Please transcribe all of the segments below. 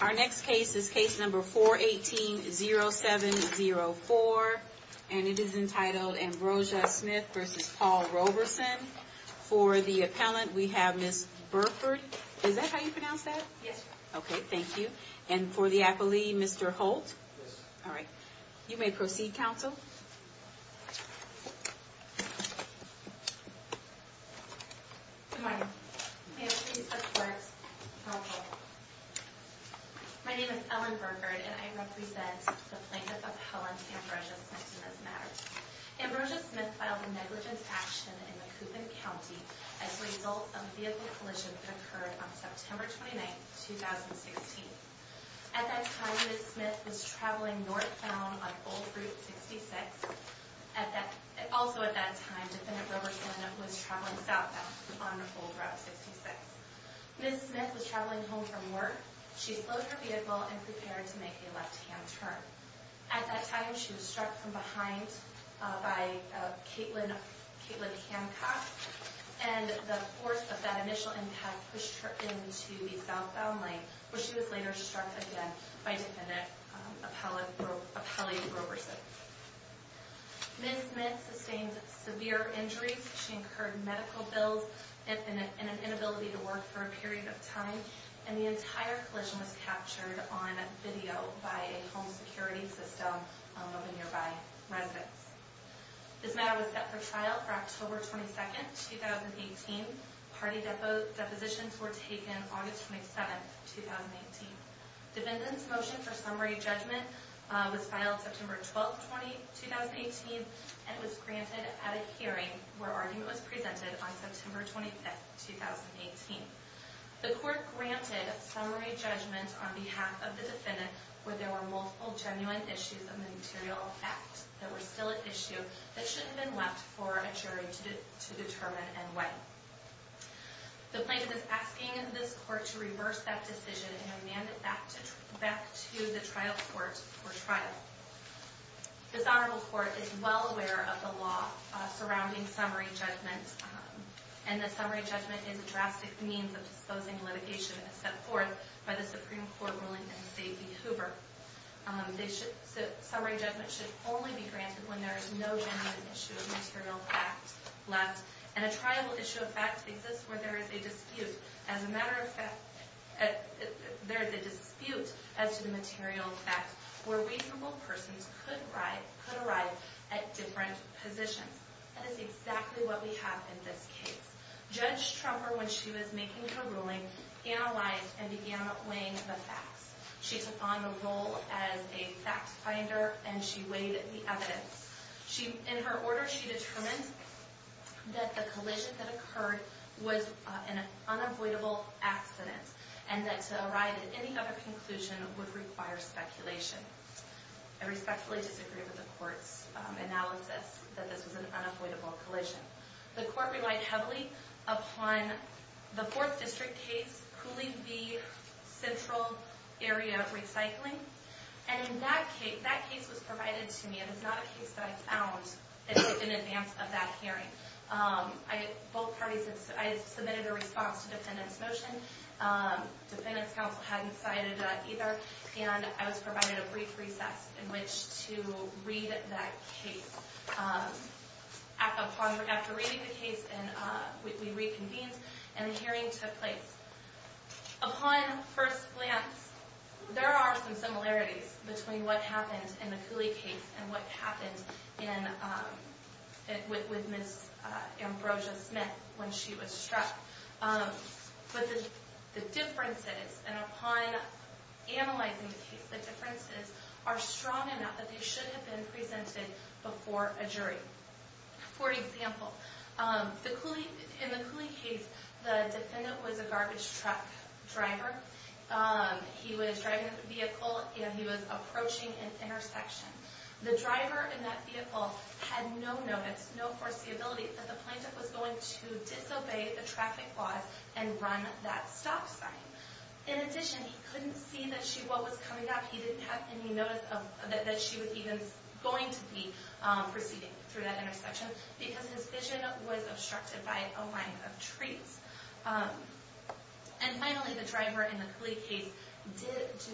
Our next case is case number 418-0704, and it is entitled Ambrosia Smith v. Paul Roberson. For the appellant, we have Ms. Burford. Is that how you pronounce that? Yes, ma'am. Okay, thank you. And for the appellee, Mr. Holt? Yes, ma'am. All right. You may proceed, counsel. My name is Ellen Burford, and I represent the plaintiff appellant, Ambrosia Smith, in this matter. Ambrosia Smith filed a negligence action in Macoupin County as a result of a vehicle collision that occurred on September 29, 2016. At that time, Ms. Smith was traveling northbound on Old Route 66. Also at that time, Defendant Roberson was traveling southbound on Old Route 66. Ms. Smith was traveling home from work. She slowed her vehicle and prepared to make a left-hand turn. At that time, she was struck from behind by Caitlin Hancock, and the force of that initial impact pushed her into the southbound lane, where she was later struck again by Defendant Appellate Roberson. Ms. Smith sustained severe injuries. She incurred medical bills and an inability to work for a period of time, and the entire collision was captured on video by a home security system of a nearby residence. This matter was set for trial for October 22, 2018. Party depositions were taken on August 27, 2018. Defendant's motion for summary judgment was filed September 12, 2018, and was granted at a hearing where argument was presented on September 25, 2018. The court granted summary judgment on behalf of a trial issue that shouldn't have been left for a jury to determine and when. The plaintiff is asking this court to reverse that decision and remand it back to the trial court for trial. This honorable court is well aware of the law surrounding summary judgment, and the summary judgment is a drastic means of disposing litigation as set forth by the Supreme Court ruling in St. There's no genuine issue of material fact left, and a trial issue of fact exists where there is a dispute as a matter of fact. There is a dispute as to the material fact, where reasonable persons could arrive at different positions. That is exactly what we have in this case. Judge Trumper, when she was making her ruling, analyzed and began weighing the facts. She took on the role as a fact finder, and she weighed the evidence. In her order, she determined that the collision that occurred was an unavoidable accident, and that to arrive at any other conclusion would require speculation. I respectfully disagree with the court's analysis that this was an unavoidable collision. The court relied heavily upon the Fourth District case, Cooley v. Central Area Recycling, and that case was provided to me. It is not a case that I found in advance of that hearing. Both parties had submitted a response to defendant's motion. Defendant's counsel hadn't cited either, and I was provided a brief recess in which to read that case. After reading the case, we reconvened, and a hearing took place. Upon first glance, there are some similarities between what happened in the Cooley case and what happened with Ms. Ambrosia Smith when she was struck. But the differences, and upon analyzing the case, the differences are strong enough that they should have been presented before a jury. For example, in the Cooley case, the defendant was a garbage truck driver. He was driving his vehicle, and he was approaching an intersection. The driver in that vehicle had no notice, no foreseeability that the plaintiff was going to disobey the traffic laws and run that stop sign. In addition, he couldn't see what was coming up. He didn't have any notice that she was even going to be proceeding through that intersection because his vision was obstructed by a line of trees. And finally, the driver in the Cooley case did do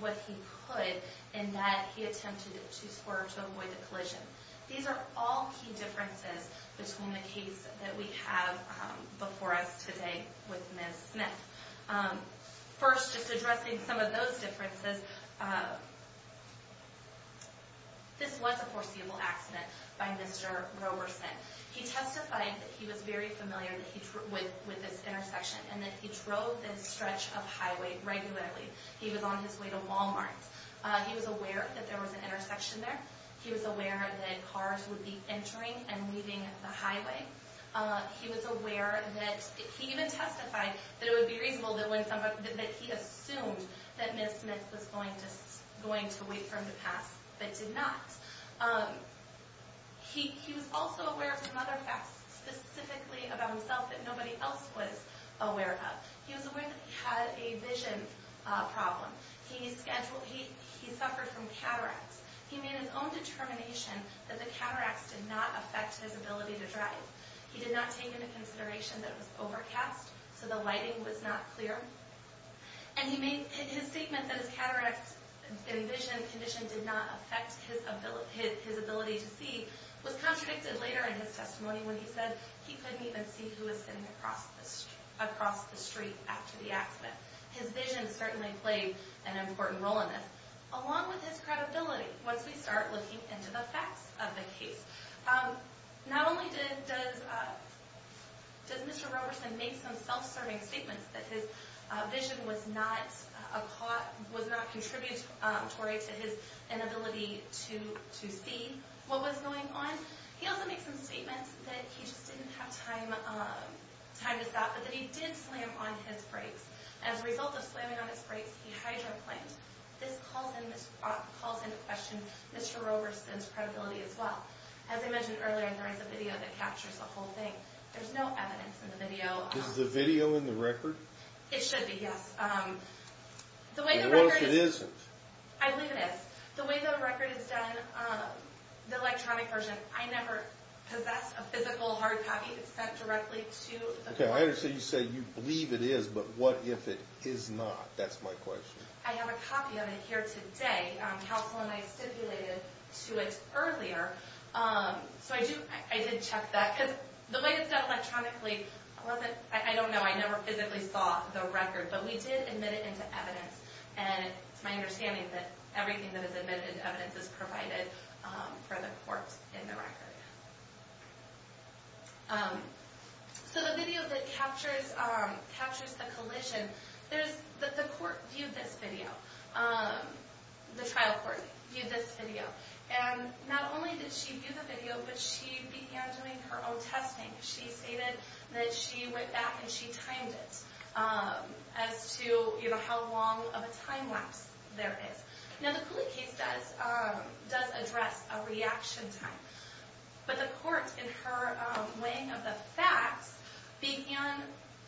what he could in that he attempted to avoid the collision. These are all key differences between the case that we have before us today with Ms. Smith. First, just addressing some of those differences, this was a foreseeable accident by Mr. Roberson. He testified that he was very familiar with this intersection and that he drove this stretch of highway regularly. He was on his way to Walmart. He was aware that there was an intersection there. He was aware that cars would be entering and leaving the highway. He was aware that, he even testified that it would be reasonable that he assumed that Ms. Smith was going to wait for him to pass, but did not. He was also aware of another fact specifically about himself that nobody else was aware of. He was aware that he had a vision problem. He suffered from cataracts. He made his own determination that the cataracts did not affect his ability to drive. He did not take into account that the lighting was not clear. His statement that his cataracts and vision condition did not affect his ability to see was contradicted later in his testimony when he said he couldn't even see who was sitting across the street after the accident. His vision certainly played an important role in this. Along with his credibility, once we start looking into the facts of the case, not only does Mr. Roberson make some self-serving statements that his vision was not contributory to his inability to see what was going on, he also makes some statements that he just didn't have time to stop, but that he did slam on his brakes. As a result of slamming on his brakes, he hydroplaned. This calls into question Mr. Roberson's ability to see. As I mentioned earlier, there is a video that captures the whole thing. There's no evidence in the video. Is the video in the record? It should be, yes. I believe it is. The way the record is done, the electronic version, I never possess a physical hard copy. It's sent directly to the court. Okay, I understand you say you believe it is, but what if it is not? That's my question. I have a copy of it here today. Counselor and I stipulated to it earlier, so I did check that. The way it's done electronically, I don't know, I never physically saw the record, but we did admit it into evidence. It's my understanding that everything that is admitted into evidence is provided for the court in the record. So the video that captures the collision, the court viewed this video, the trial court viewed this video, and not only did she view the video, but she began doing her own testing. She stated that she went back and she timed it as to how long of a time lapse there is. Now the Cooley case does address a reaction time, but the court, in her weighing of the facts, began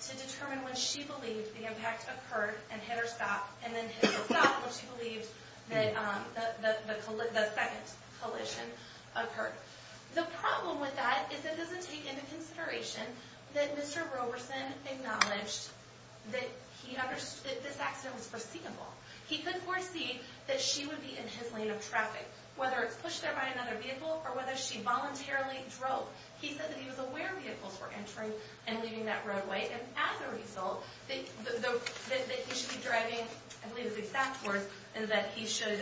to determine when she believed the impact occurred and hit her stop and then hit her stop when she believed that the second collision occurred. The problem with that is it doesn't take into consideration that Mr. Roberson acknowledged that he understood that this accident was foreseeable. He could foresee that she would be in his lane of traffic, whether it's pushed there by another vehicle or whether she voluntarily drove. He said that he was aware were entering and leaving that roadway, and as a result, that he should be driving, I believe his exact words, is that he should,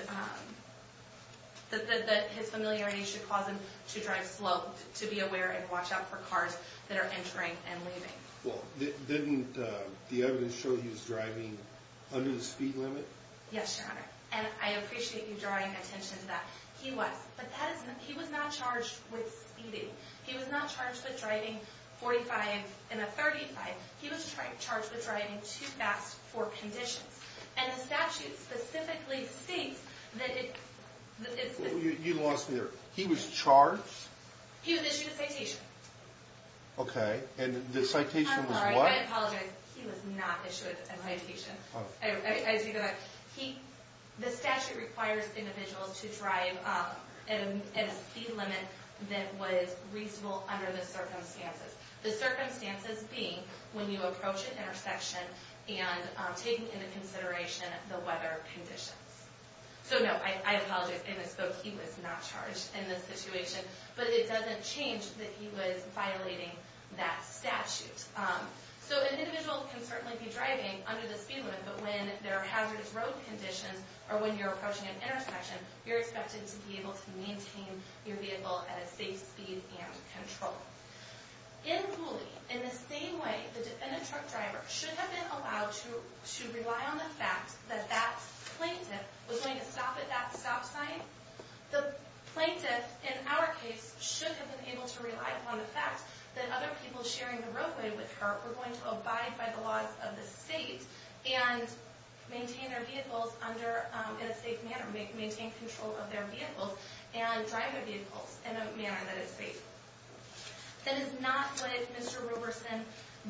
that his familiarity should cause him to drive slow, to be aware and watch out for cars that are entering and leaving. Well, didn't the evidence show he was driving under the speed limit? Yes, Your Honor, and I appreciate you drawing attention to that. He was, but that isn't, he was not charged with speeding. He was not charged with driving 45 in a 35. He was charged with driving too fast for conditions, and the statute specifically states that it's... You lost me there. He was charged? He was issued a citation. Okay, and the citation was what? I'm sorry, I apologize. He was not issued a citation. As you go back, he, the statute requires individuals to drive at a speed limit that was reasonable under the circumstances. The circumstances being when you approach an intersection and taking into consideration the weather conditions. So, no, I apologize. In this book, he was not charged in this situation, but it doesn't change that he was violating that statute. So, an individual can certainly be or when you're approaching an intersection, you're expected to be able to maintain your vehicle at a safe speed and control. In Cooley, in the same way the defendant truck driver should have been allowed to rely on the fact that that plaintiff was going to stop at that stop sign, the plaintiff, in our case, should have been able to rely upon the fact that other people sharing the roadway with her were going to abide by the laws of the state and maintain their vehicles under, in a safe manner, maintain control of their vehicles and drive their vehicles in a manner that is safe. That is not what Mr. Roberson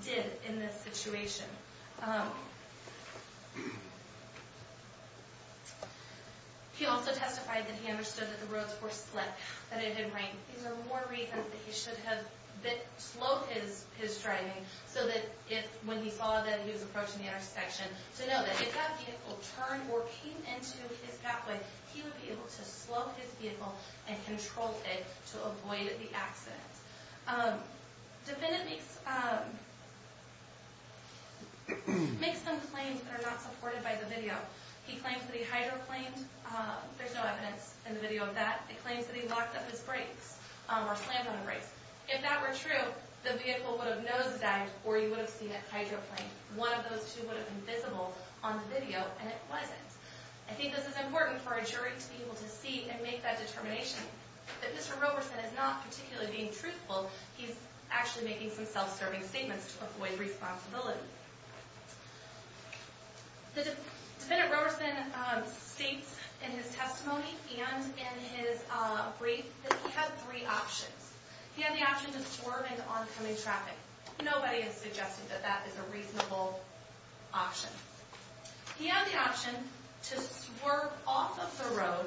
did in this situation. He also testified that he understood that the roads were slick, that it didn't rain. These are more reasons that he should have slowed his driving so that if when he saw that he was approaching the intersection, to know that if that vehicle turned or came into his pathway, he would be able to slow his vehicle and control it to avoid the accident. Defendant makes makes some claims that are not supported by the video. He claims that he hydroplaned. There's no evidence in the video of that. He claims that he locked up his brakes or slammed on the brakes. If that were true, the vehicle would have nosedived or you would have seen that those two would have been visible on the video and it wasn't. I think this is important for a jury to be able to see and make that determination that Mr. Roberson is not particularly being truthful. He's actually making some self-serving statements to avoid responsibility. The defendant, Roberson, states in his testimony and in his brief that he had three options. He had the option to swerve into oncoming traffic. Nobody has suggested that that is a reasonable option. He had the option to swerve off of the road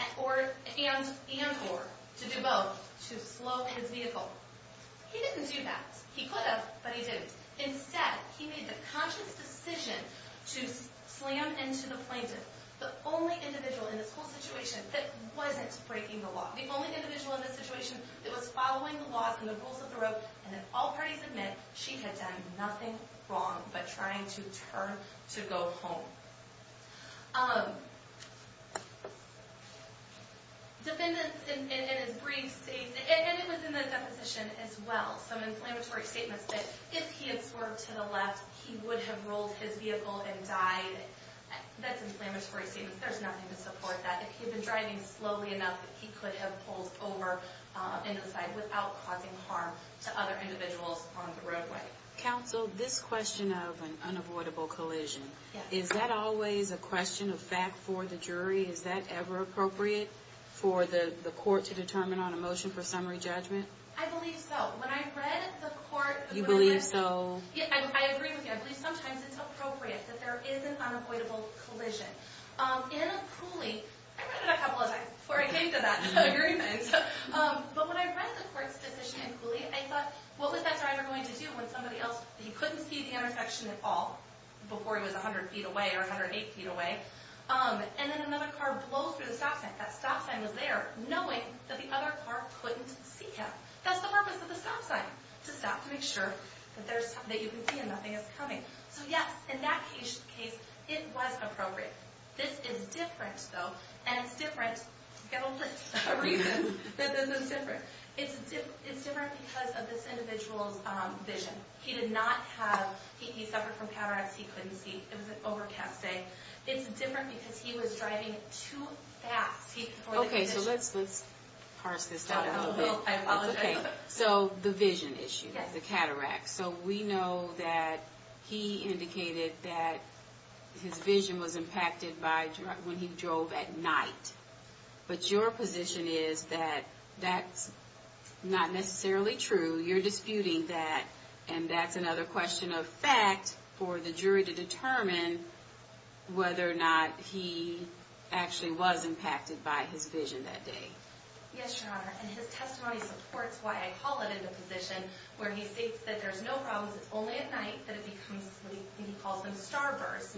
and or to do both to slow his vehicle. He didn't do that. He could have, but he didn't. Instead, he made the conscious decision to slam into the plaintiff, the only individual in this whole situation that wasn't breaking the law. The only individual in this situation that was trying to turn to go home. Defendants in his brief state, and it was in the deposition as well, some inflammatory statements that if he had swerved to the left, he would have rolled his vehicle and died. That's inflammatory statements. There's nothing to support that. If he had been driving slowly enough, he could have pulled over and aside without causing harm to other individuals on the roadway. Counsel, this question of an unavoidable collision, is that always a question of fact for the jury? Is that ever appropriate for the court to determine on a motion for summary judgment? I believe so. When I read the court... You believe so? I agree with you. I believe sometimes it's appropriate that there is an unavoidable collision. In Cooley, I read it a couple of times before I thought, what was that driver going to do when somebody else... He couldn't see the intersection at all before he was 100 feet away or 108 feet away, and then another car blows through the stop sign. That stop sign was there knowing that the other car couldn't see him. That's the purpose of the stop sign, to stop to make sure that you can see and nothing is coming. Yes, in that case, it was appropriate. This is different though, and it's different to get a list of reasons that this is different. It's different because of this individual's vision. He suffered from cataracts. He couldn't see. It was an overcast day. It's different because he was driving too fast. Okay, so let's parse this down a little bit. I apologize. Okay, so the vision issue, the cataract. We know that he indicated that his vision was impacted when he drove at night, but your position is that that's not necessarily true. You're disputing that, and that's another question of fact for the jury to determine whether or not he actually was impacted by his vision that day. Yes, Your Honor, and his testimony supports why I call it in the position where he states that there's no problems. It's only at night that it becomes what he calls in starbursts,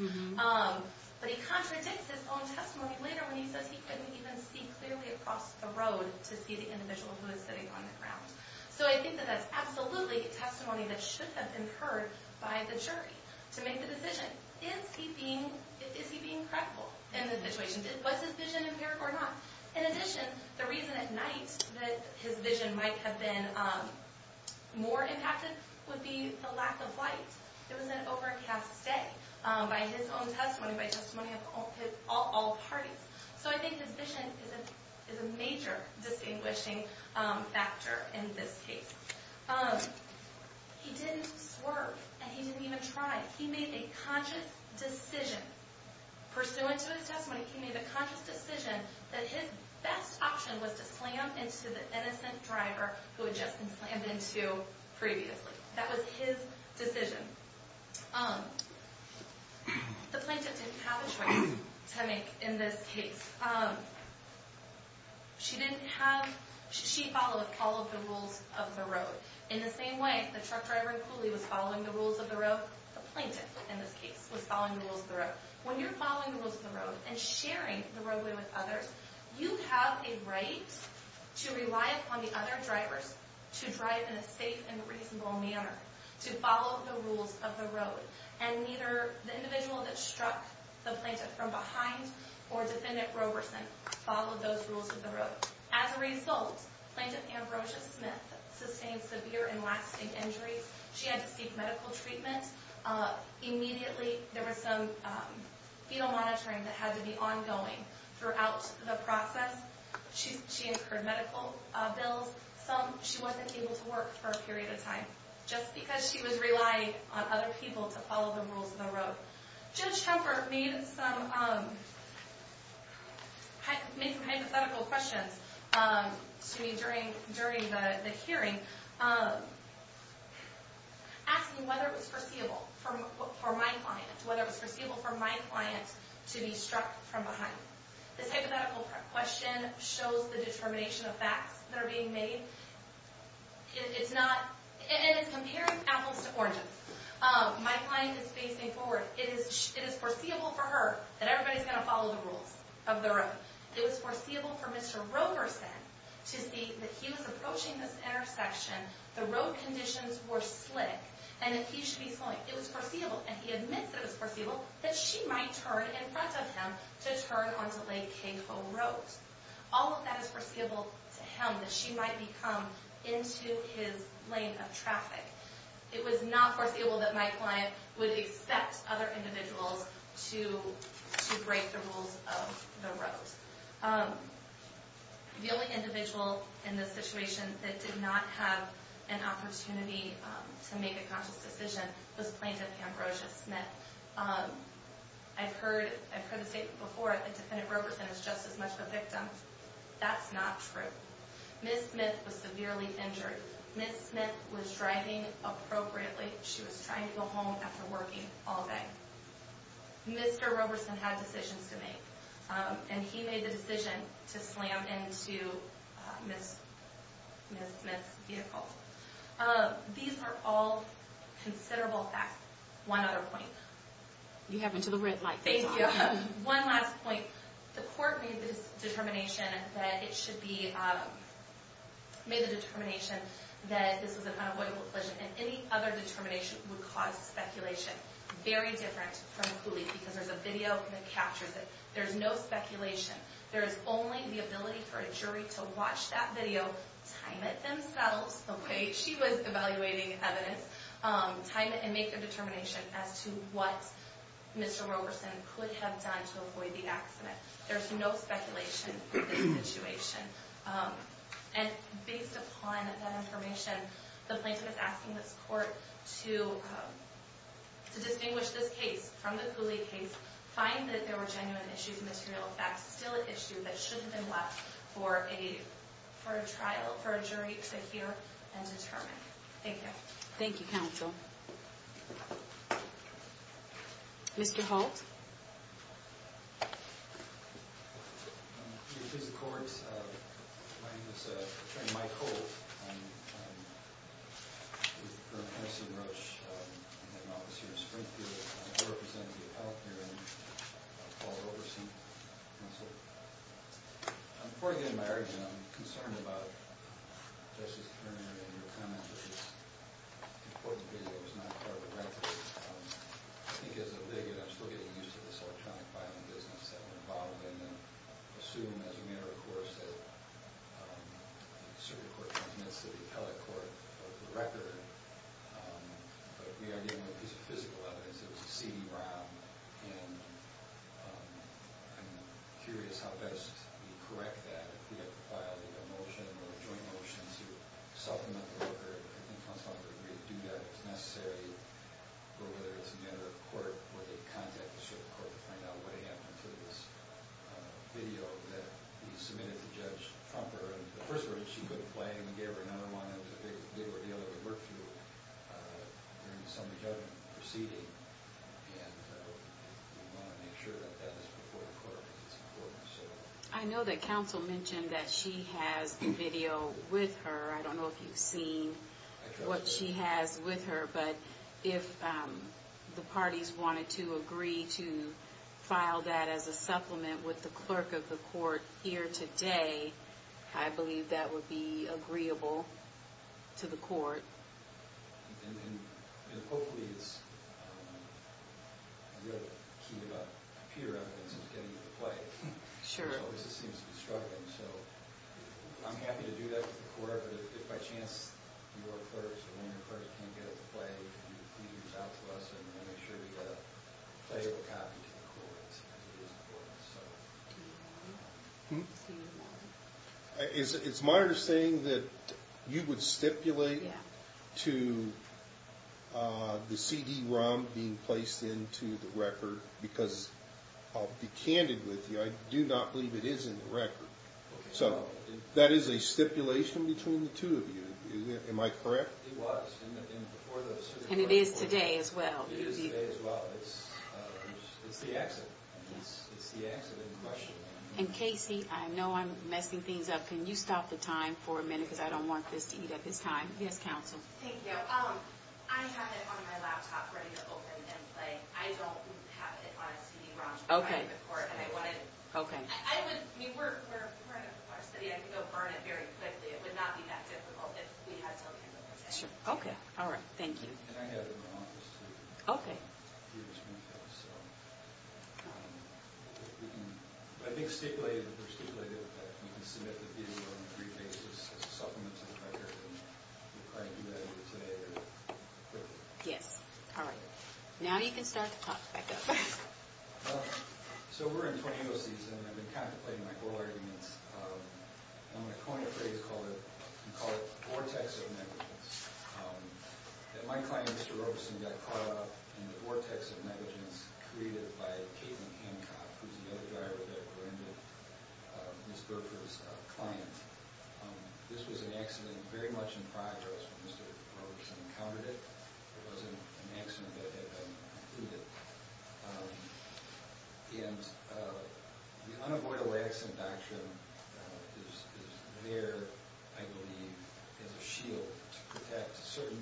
but he contradicts his own testimony later when he says he couldn't even see clearly across the road to see the individual who is sitting on the ground, so I think that that's absolutely testimony that should have been heard by the jury to make the decision. Is he being credible in the situation? Was his vision impaired or not? In addition, the reason at night that his vision might have been more impacted would be the lack of light. It was an overcast day by his own testimony, by testimony of all parties, so I think his vision is a major distinguishing factor in this case. He didn't swerve, and he didn't even try. He made a conscious decision. Pursuant to his testimony, he made a conscious decision that his best option was to slam into the innocent driver who had just been slammed into previously. That was his decision. The plaintiff didn't have a choice to make in this case. She followed all of the rules of the road. In the same way the truck driver and pulley was following the rules of the road, the plaintiff in this case was following the rules of the road. When you're following the rules of the road and sharing the roadway with others, you have a right to rely upon the other to drive in a safe and reasonable manner, to follow the rules of the road, and neither the individual that struck the plaintiff from behind or defendant Roberson followed those rules of the road. As a result, Plaintiff Ambrosia Smith sustained severe and lasting injuries. She had to seek medical treatment. Immediately there was some fetal monitoring that had to be ongoing throughout the process. She incurred medical bills. She wasn't able to work for a period of time just because she was relying on other people to follow the rules of the road. Judge Kemper made some hypothetical questions to me during the hearing asking whether it was foreseeable for my client, whether it was foreseeable for my client to be struck from behind. This hypothetical question shows the determination of facts that are being made. It's not, and it's comparing apples to oranges. My client is facing forward. It is foreseeable for her that everybody's going to follow the rules of the road. It was foreseeable for Mr. Roberson to see that he was approaching this intersection, the road conditions were slick, and that he should be slowing. It was foreseeable, and he admits that it was foreseeable that she might turn in front of him to turn onto Lake Cahoe Road. All of that is foreseeable to him, that she might become into his lane of traffic. It was not foreseeable that my client would expect other individuals to break the rules of the road. The only individual in this situation that did not have an opportunity to make a conscious decision was Plaintiff Ambrosia Smith. I've heard, I've heard the statement before that Defendant Roberson is just as much of a victim. That's not true. Ms. Smith was severely injured. Ms. Smith was driving appropriately. She was trying to go home after working all day. Mr. Roberson had decisions to make, and he made the decision to slam into Ms. Smith's vehicle. These are all considerable facts. One other point. You have until the red light. Thank you. One last point. The court made this determination that it should be, made the determination that this was an unavoidable collision, and any other determination would cause speculation. Very different from Cooley, because there's a video that captures it. There's no speculation. There is only the ability for a jury to watch that video, time it themselves, she was evaluating evidence, time it, and make a determination as to what Mr. Roberson could have done to avoid the accident. There's no speculation in this situation. And based upon that information, the Plaintiff is asking this court to distinguish this case from the Cooley case, find that there were genuine issues, material facts, still an issue that shouldn't have been determined. Thank you. Thank you, counsel. Mr. Holt. Your Honor, please, the court. My name is attorney Mike Holt. I'm with the firm of Harrison Roche. I have an office here in Springfield. I'm here representing the appellate hearing of Paul Roberson. And so, before I get into my argument, I'm concerned about Justice Kramer and your comment that this important video was not part of the record. I think as a litigant, I'm still getting used to this electronic filing business that we're involved in, and I assume, as a matter of course, that the circuit court transmits to the appellate court the record, but we are dealing with this physical evidence. It was a CD-ROM, and I'm curious how best we correct that if we have to file a motion or a joint motion to supplement the record. I think counsel ought to agree to do that if necessary, or whether it's a matter of court where they contact the circuit court to find out what happened to this video that we submitted to Judge Trumper. And the first word that she would play, and we gave her another one, it was a big ordeal that we worked through during the assembly judgment proceeding, and we want to make sure that that is before the court. I know that counsel mentioned that she has the video with her. I don't know if you've seen what she has with her, but if the parties wanted to agree to file that as a supplement with the record, that would be agreeable to the court. And hopefully it's real key to computer evidence is getting it to play, which always seems to be struggling. So I'm happy to do that to the court, but if by chance your clerks or one of your clerks can't get it to play, can you please reach out to us and make sure we get a playable copy to the You would stipulate to the CD-ROM being placed into the record, because I'll be candid with you, I do not believe it is in the record. So that is a stipulation between the two of you. Am I correct? It was. And it is today as well. It is today as well. It's the accident. It's the accident in question. And Casey, I know I'm messing things up. Can you stop the time for a minute, because I don't want this to eat at this time. Yes, counsel. Thank you. I have it on my laptop ready to open and play. I don't have it on a CD-ROM. Okay. And I want it. Okay. I would, I mean, we're, we're a part of the class today. I can go burn it very quickly. It would not be that difficult if we had to open it. Sure. Okay. All right. Thank you. And I have it in my office, too. Okay. I think stipulated that we're stipulated that we can submit the fee on a brief basis as a supplement to the record, and we'll try to do that either today or quickly. Yes. All right. Now you can start the clock back up. So we're in 20-0 season, and I've been contemplating my whole arguments. I'm going to coin a phrase and call it the vortex of negligence. That my client, Mr. Roberson, got caught up in the vortex of negligence created by Caitlin Hancock, who's the other driver that corrupted Ms. Berker's client. This was an accident very much in progress when Mr. Roberson encountered it. It wasn't an accident that had been concluded. And the unavoidable accident doctrine is there, I believe, as a shield to protect certain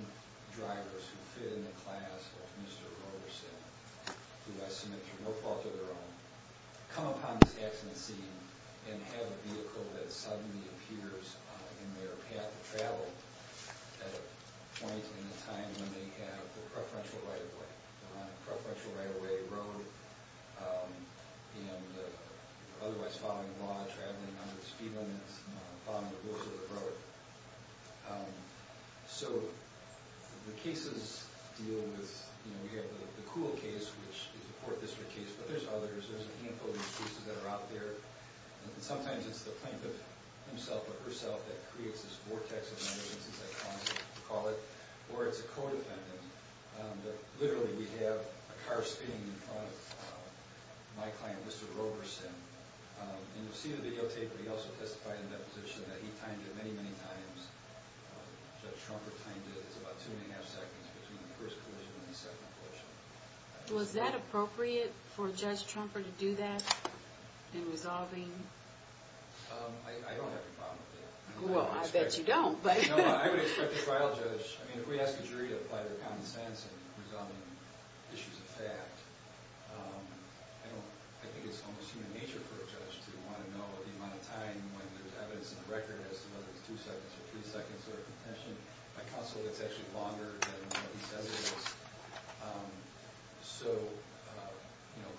drivers who fit in the class of Mr. Roberson, who I submit to no fault of their own, come upon this accident scene and have a vehicle that suddenly appears in their path of travel at a point in the time when they have the preferential right of way. Preferential right of way, road, and otherwise following the law, traveling under the speed limits, following the rules of the road. So the cases deal with, you know, you have the Kuhl case, which is a court district case, but there's others. There's a handful of excuses that are out there. Sometimes it's the plaintiff himself or herself that creates this vortex of negligence, as I call it, or it's a co-defendant. But literally, we have a car speeding in front of my client, Mr. Roberson. And you'll see the videotape, but he also testified in that position that he timed it many, many times. Judge Trumper timed it as about two and a half seconds between the first collision and the second collision. Was that appropriate for Judge Trumper to do that in resolving? I don't have a problem with that. Well, I bet you don't. No, I would expect a trial judge. I mean, if we ask a jury to apply their common sense in resolving issues of fact, I think it's almost human nature for a judge to want to know the amount of time when there's evidence in the record as to whether it's two seconds or three seconds or a contention. My counsel gets actually longer than what he says it is. So, you know,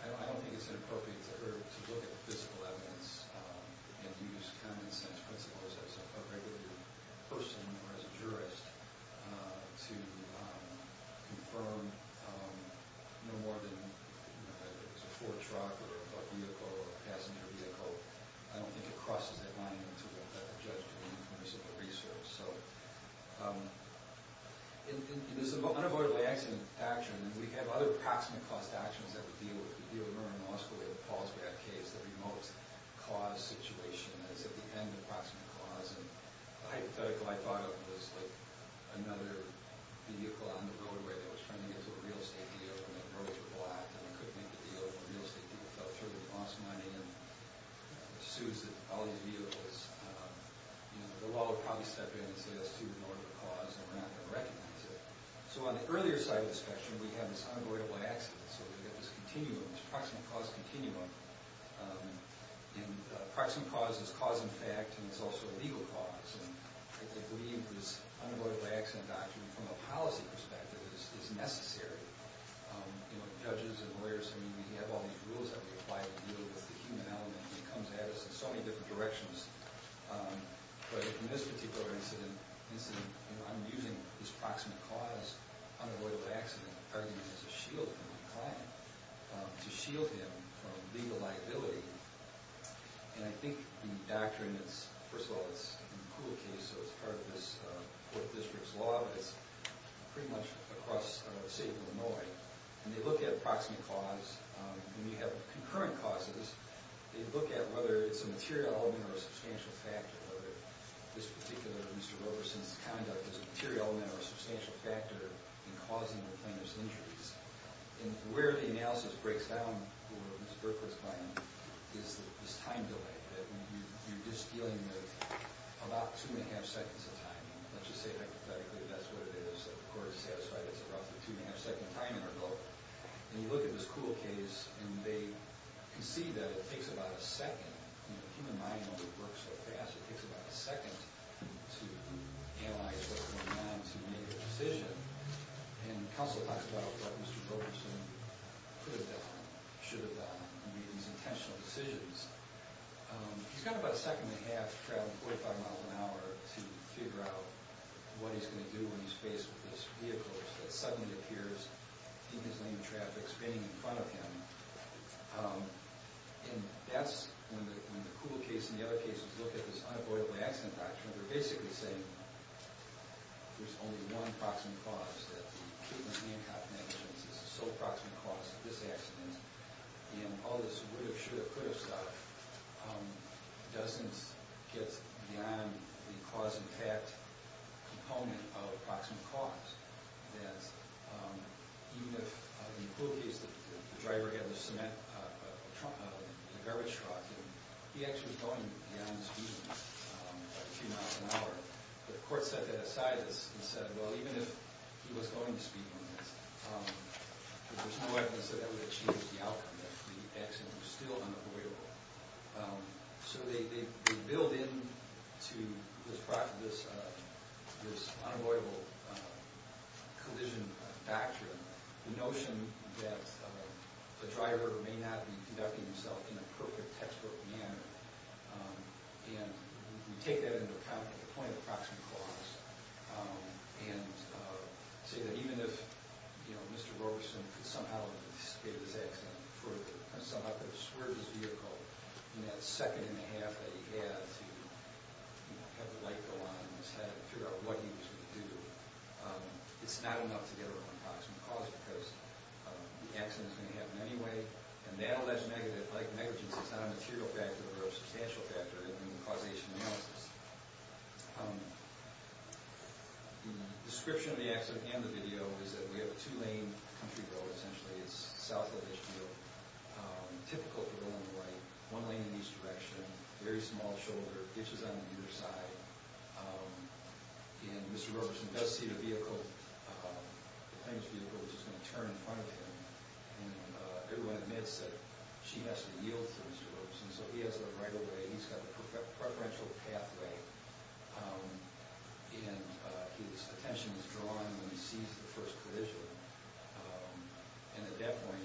I don't think it's inappropriate to look at the physical evidence and use common sense principles as a regular person or as a jurist to confirm no more than, you know, that it was a four-truck or a vehicle or a passenger vehicle. I don't think it crosses that line into what the judge can do in terms of the research. So, in this unavoidably accident action, we have other approximate cost actions that we deal with. We deal with Murray-Moscow. We deal with Paul's bad case, the remote cause situation. That is, at the end of the approximate cause. And the hypothetical I thought of was, like, another vehicle on the roadway that was trying to get to a real estate deal. And the roads were blocked, and we couldn't make a deal. The real estate deal fell through. We lost money. And it assumes that all these vehicles, you know, the law would probably step in and say that's too normal a cause, and we're not going to recognize it. So, on the earlier side of the spectrum, we have this unavoidable accident. So, we have this continuum, this approximate cause continuum. And approximate cause is cause in fact, and it's also a legal cause. And I believe this unavoidable accident doctrine, from a policy perspective, is necessary. You know, judges and lawyers, I mean, we have all these rules that we apply to deal with the human element, and it comes at us in so many different directions. But in this particular incident, I'm using this approximate cause, unavoidable accident, arguing as a shield from the client, to shield him from legal liability. And I think the doctrine is, first of all, it's in the Kula case, so it's part of this court district's law, but it's pretty much across the state of Illinois. And they look at approximate cause. When you have concurrent causes, they look at whether it's a material element or a substantial factor, whether this particular Mr. Roberson's conduct is a material element or a substantial factor in causing the plaintiff's injuries. And where the analysis breaks down for Mr. Berkowitz's client is this time delay. That you're just dealing with about two and a half seconds of time. Let's just say, hypothetically, that's what it is. The court is satisfied it's roughly two and a half seconds time interval. And you look at this Kula case, and they concede that it takes about a second. You know, the human mind doesn't work so fast. It takes about a second to analyze what's going on to make a decision. And counsel talks about what Mr. Roberson could have done, should have done, and made these intentional decisions. He's got about a second and a half to travel 45 miles an hour to figure out what he's going to do when he's faced with this vehicle that suddenly appears in his lane of traffic spinning in front of him. And that's when the Kula case and the other cases look at this unavoidable accident document, they're basically saying there's only one proximate cause. That the Cleveland-Hancock negligence is the sole proximate cause of this accident. And all this would have, should have, could have stuff doesn't get beyond the cause and fact component of the proximate cause. That even if in the Kula case, the driver had a cement, a garbage truck, he actually was going beyond the speed limit by a few miles an hour. But the court set that aside and said, well, even if he was going to speed limits, there's no evidence that that would have changed the outcome, that the accident was still unavoidable. So they build into this unavoidable collision factor the notion that the driver may not be conducting himself in a perfect textbook manner. And we take that into account at the point of the proximate cause and say that even if Mr. Roberson could somehow have anticipated this accident further and somehow could have swerved his vehicle in that second and a half that he had to have the light go on and figure out what he was going to do. It's not enough to get a real proximate cause because the accident is going to happen anyway. And that alleged negligence is not a material factor but a substantial factor in causation analysis. The description of the accident and the video is that we have a two-lane country road, essentially. It's south of Ishmael, typical for the one on the right, one lane in the east direction, very small shoulder, ditches on either side. And Mr. Roberson does see the vehicle, the plaintiff's vehicle, which is going to turn in front of him. And everyone admits that she has to yield to Mr. Roberson. So he has a right-of-way, he's got a preferential pathway. And his attention is drawn when he sees the first collision. And at that point,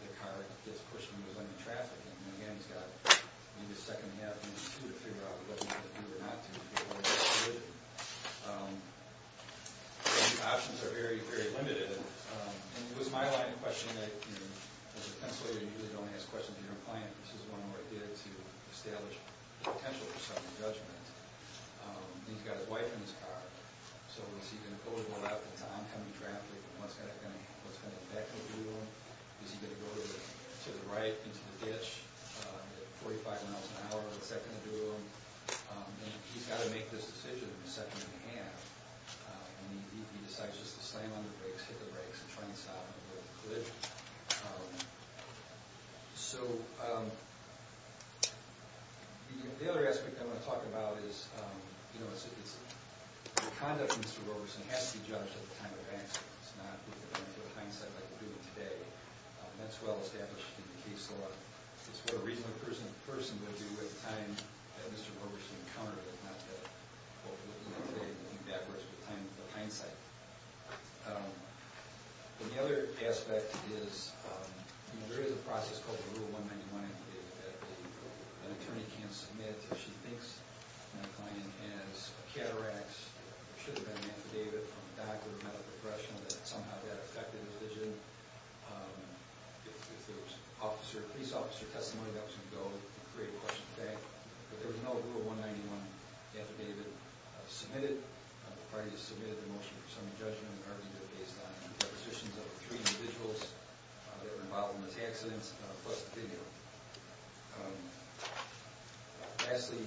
the car gets pushed and he was under traffic. And again, he's got maybe a second and a half, maybe two to figure out what he's going to do or not to figure out what he's going to do. Options are very, very limited. And it was my line of questioning that, as a pensioner, you usually don't ask questions of your client. This is one where I did to establish the potential for some judgment. He's got his wife in his car. So is he going to go to the left into oncoming traffic? And what's that going to do to him? Is he going to go to the right into the ditch at 45 miles an hour? What's that going to do to him? He's got to make this decision in a second and a half. And he decides just to slam on the brakes, hit the brakes, and try and stop in the middle of the collision. So the other aspect I want to talk about is the conduct of Mr. Roberson has to be judged at the time of accident. It's not with the benefit of hindsight like we're doing today. That's well established in the case law. It's what a reasonable person would do at the time that Mr. Roberson encountered it, not to, hopefully, look at it and think backwards with hindsight. And the other aspect is there is a process called the Rule 191 affidavit that an attorney can't submit until she thinks the client has a cataract. There should have been an affidavit from a doctor or medical professional that somehow that affected the decision. If there was a police officer testimony, that was going to go and create a question of fact. But there was no Rule 191 affidavit submitted. The party has submitted a motion for summary judgment on an argument based on the depositions of three individuals that were involved in those accidents, plus the video. Lastly,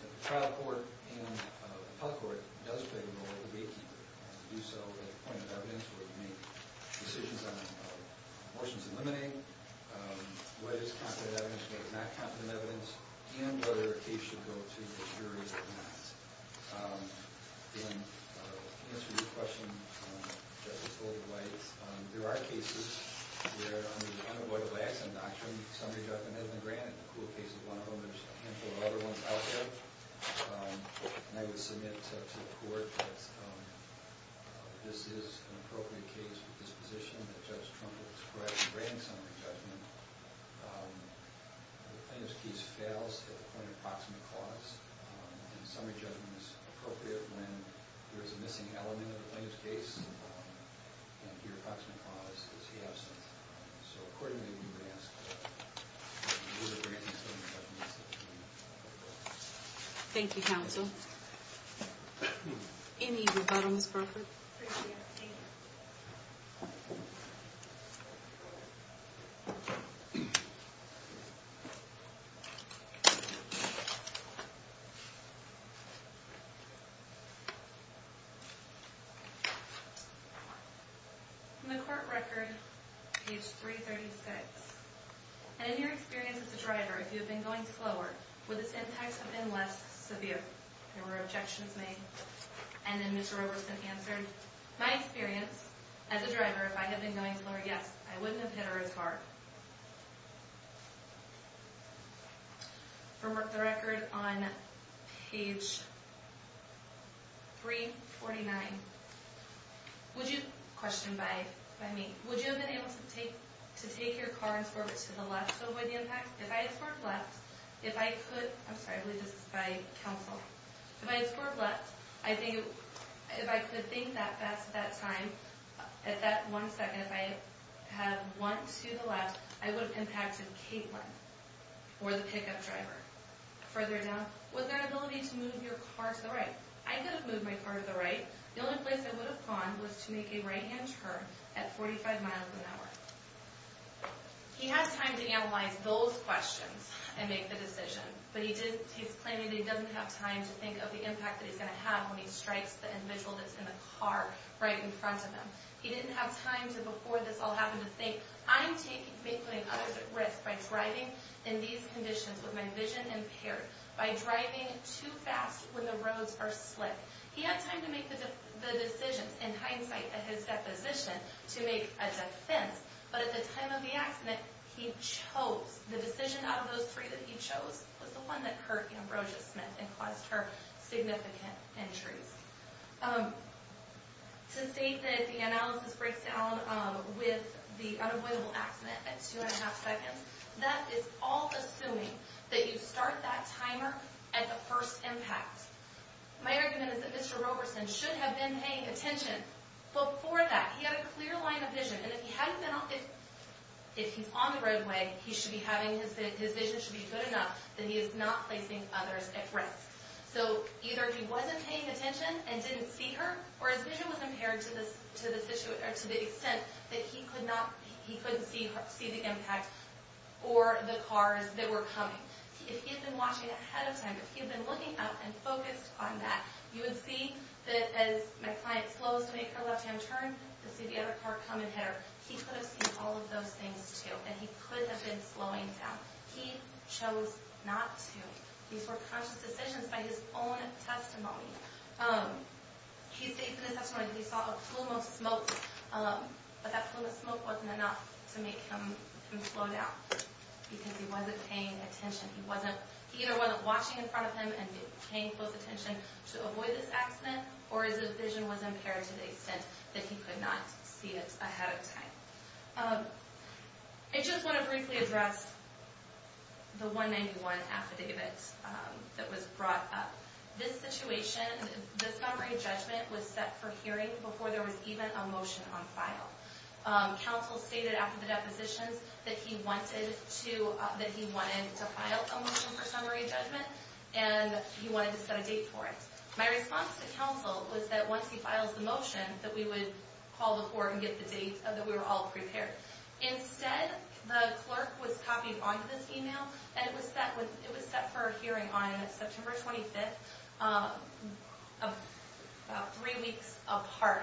the trial court and the public court does play the role of the gatekeeper. They have to do so at a point of evidence where they make decisions on motions eliminated, whether it's confident evidence or not confident evidence, and whether a case should go to the jury or not. And to answer your question, Justice Golde-White, there are cases where, under the unavoidable acts of induction, summary judgment isn't granted. The Kluge case is one of them. There's a handful of other ones out there. And I would submit to the court that this is an appropriate case with disposition that Judge Trump would describe as granting summary judgment. If the plaintiff's case fails at the point of proximate cause and summary judgment is appropriate when there's a missing element of the plaintiff's case, then your proximate cause is he absent. So accordingly, you may ask for the granting of summary judgment. Thank you, counsel. Any rebuttal, Ms. Brokert? Appreciate it, thank you. From the court record, page 336, and in your experience as a driver, if you had been going slower, would the syntax have been less severe? There were objections made. And then Mr. Roberson answered, my experience as a driver, if I had been going slower, yes, I wouldn't have hit her as hard. From the record on page 349, would you, question by me, would you have been able to take your car and swerve it to the left to avoid the impact? If I had swerved left, if I could, I'm sorry, I believe this is by counsel. If I had swerved left, if I could think that fast at that time, at that one second, if I had went to the left, I would have impacted Caitlyn or the pickup driver. Further down, was that ability to move your car to the right? I could have moved my car to the right. The only place I would have gone was to make a right-hand turn at 45 miles an hour. He has time to analyze those questions and make the decision, but he's claiming he doesn't have time to think of the impact that he's going to have when he strikes the individual that's in the car right in front of him. He didn't have time to, before this all happened, to think, I'm taking Caitlyn and others at risk by driving in these conditions with my vision impaired, by driving too fast when the roads are slick. He had time to make the decision, in hindsight, at his deposition, to make a defense, but at the time of the accident, he chose, the decision out of those three that he chose was the one that hurt Ambrosia Smith and caused her significant injuries. To state that the analysis breaks down with the unavoidable accident at two and a half seconds, that is all assuming that you start that timer at the first impact. My argument is that Mr. Roberson should have been paying attention before that. He had a clear line of vision, and if he hadn't been, if he's on the roadway, his vision should be good enough that he is not placing others at risk. So, either he wasn't paying attention and didn't see her, or his vision was impaired to the extent that he couldn't see the impact or the cars that were coming. If he had been watching ahead of time, if he had been looking up and focused on that, you would see that as my client slows to make her left hand turn, you'd see the other car come and hit her. He could have seen all of those things too, and he could have been slowing down. He chose not to. These were conscious decisions by his own testimony. He states in his testimony that he saw a plume of smoke, but that plume of smoke wasn't enough to make him slow down, because he wasn't paying attention. He either wasn't watching in front of him and paying close attention to avoid this accident, or his vision was impaired to the extent that he could not see it ahead of time. I just want to briefly address the 191 affidavit that was brought up. This situation, this summary judgment was set for hearing before there was even a motion on file. Counsel stated after the depositions that he wanted to file a motion for summary judgment, and he wanted to set a date for it. My response to counsel was that once he files the motion, that we would call the court and that we were all prepared. Instead, the clerk was copied onto this email, and it was set for a hearing on September 25th, three weeks apart,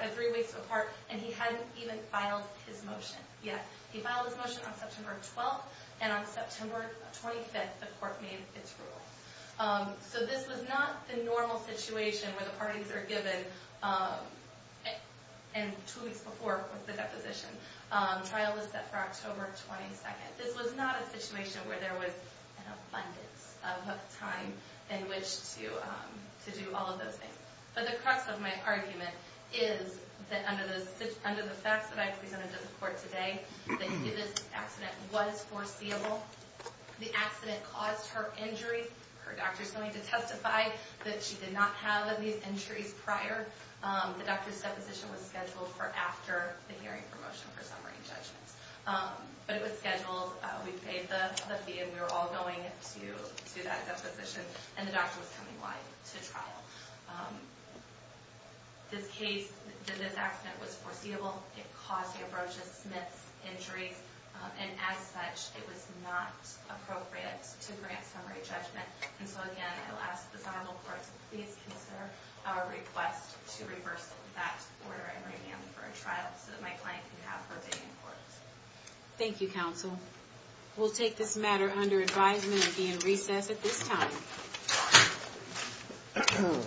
and he hadn't even filed his motion yet. He filed his motion on September 12th, and on September 25th, the court made its rule. So this was not the normal situation where the parties are given, and two weeks before was the deposition. Trial was set for October 22nd. This was not a situation where there was an abundance of time in which to do all of those things. But the crux of my argument is that under the facts that I presented to the court today, that this accident was foreseeable. The accident caused her injury. Her doctor is going to testify that she did not have these injuries prior. The doctor's deposition was scheduled for after the hearing promotion for summary judgments. But it was scheduled. We paid the fee, and we were all going to that deposition, and the doctor was coming live to trial. This case, that this accident was foreseeable. It caused the approach of Smith's injury, and as such, it was not appropriate to grant summary judgment. And so again, I'll ask the final court to please consider our request to reverse that order and revamp for a trial so that my client can have her opinion in court. Thank you, counsel. We'll take this matter under advisement and be in recess at this time.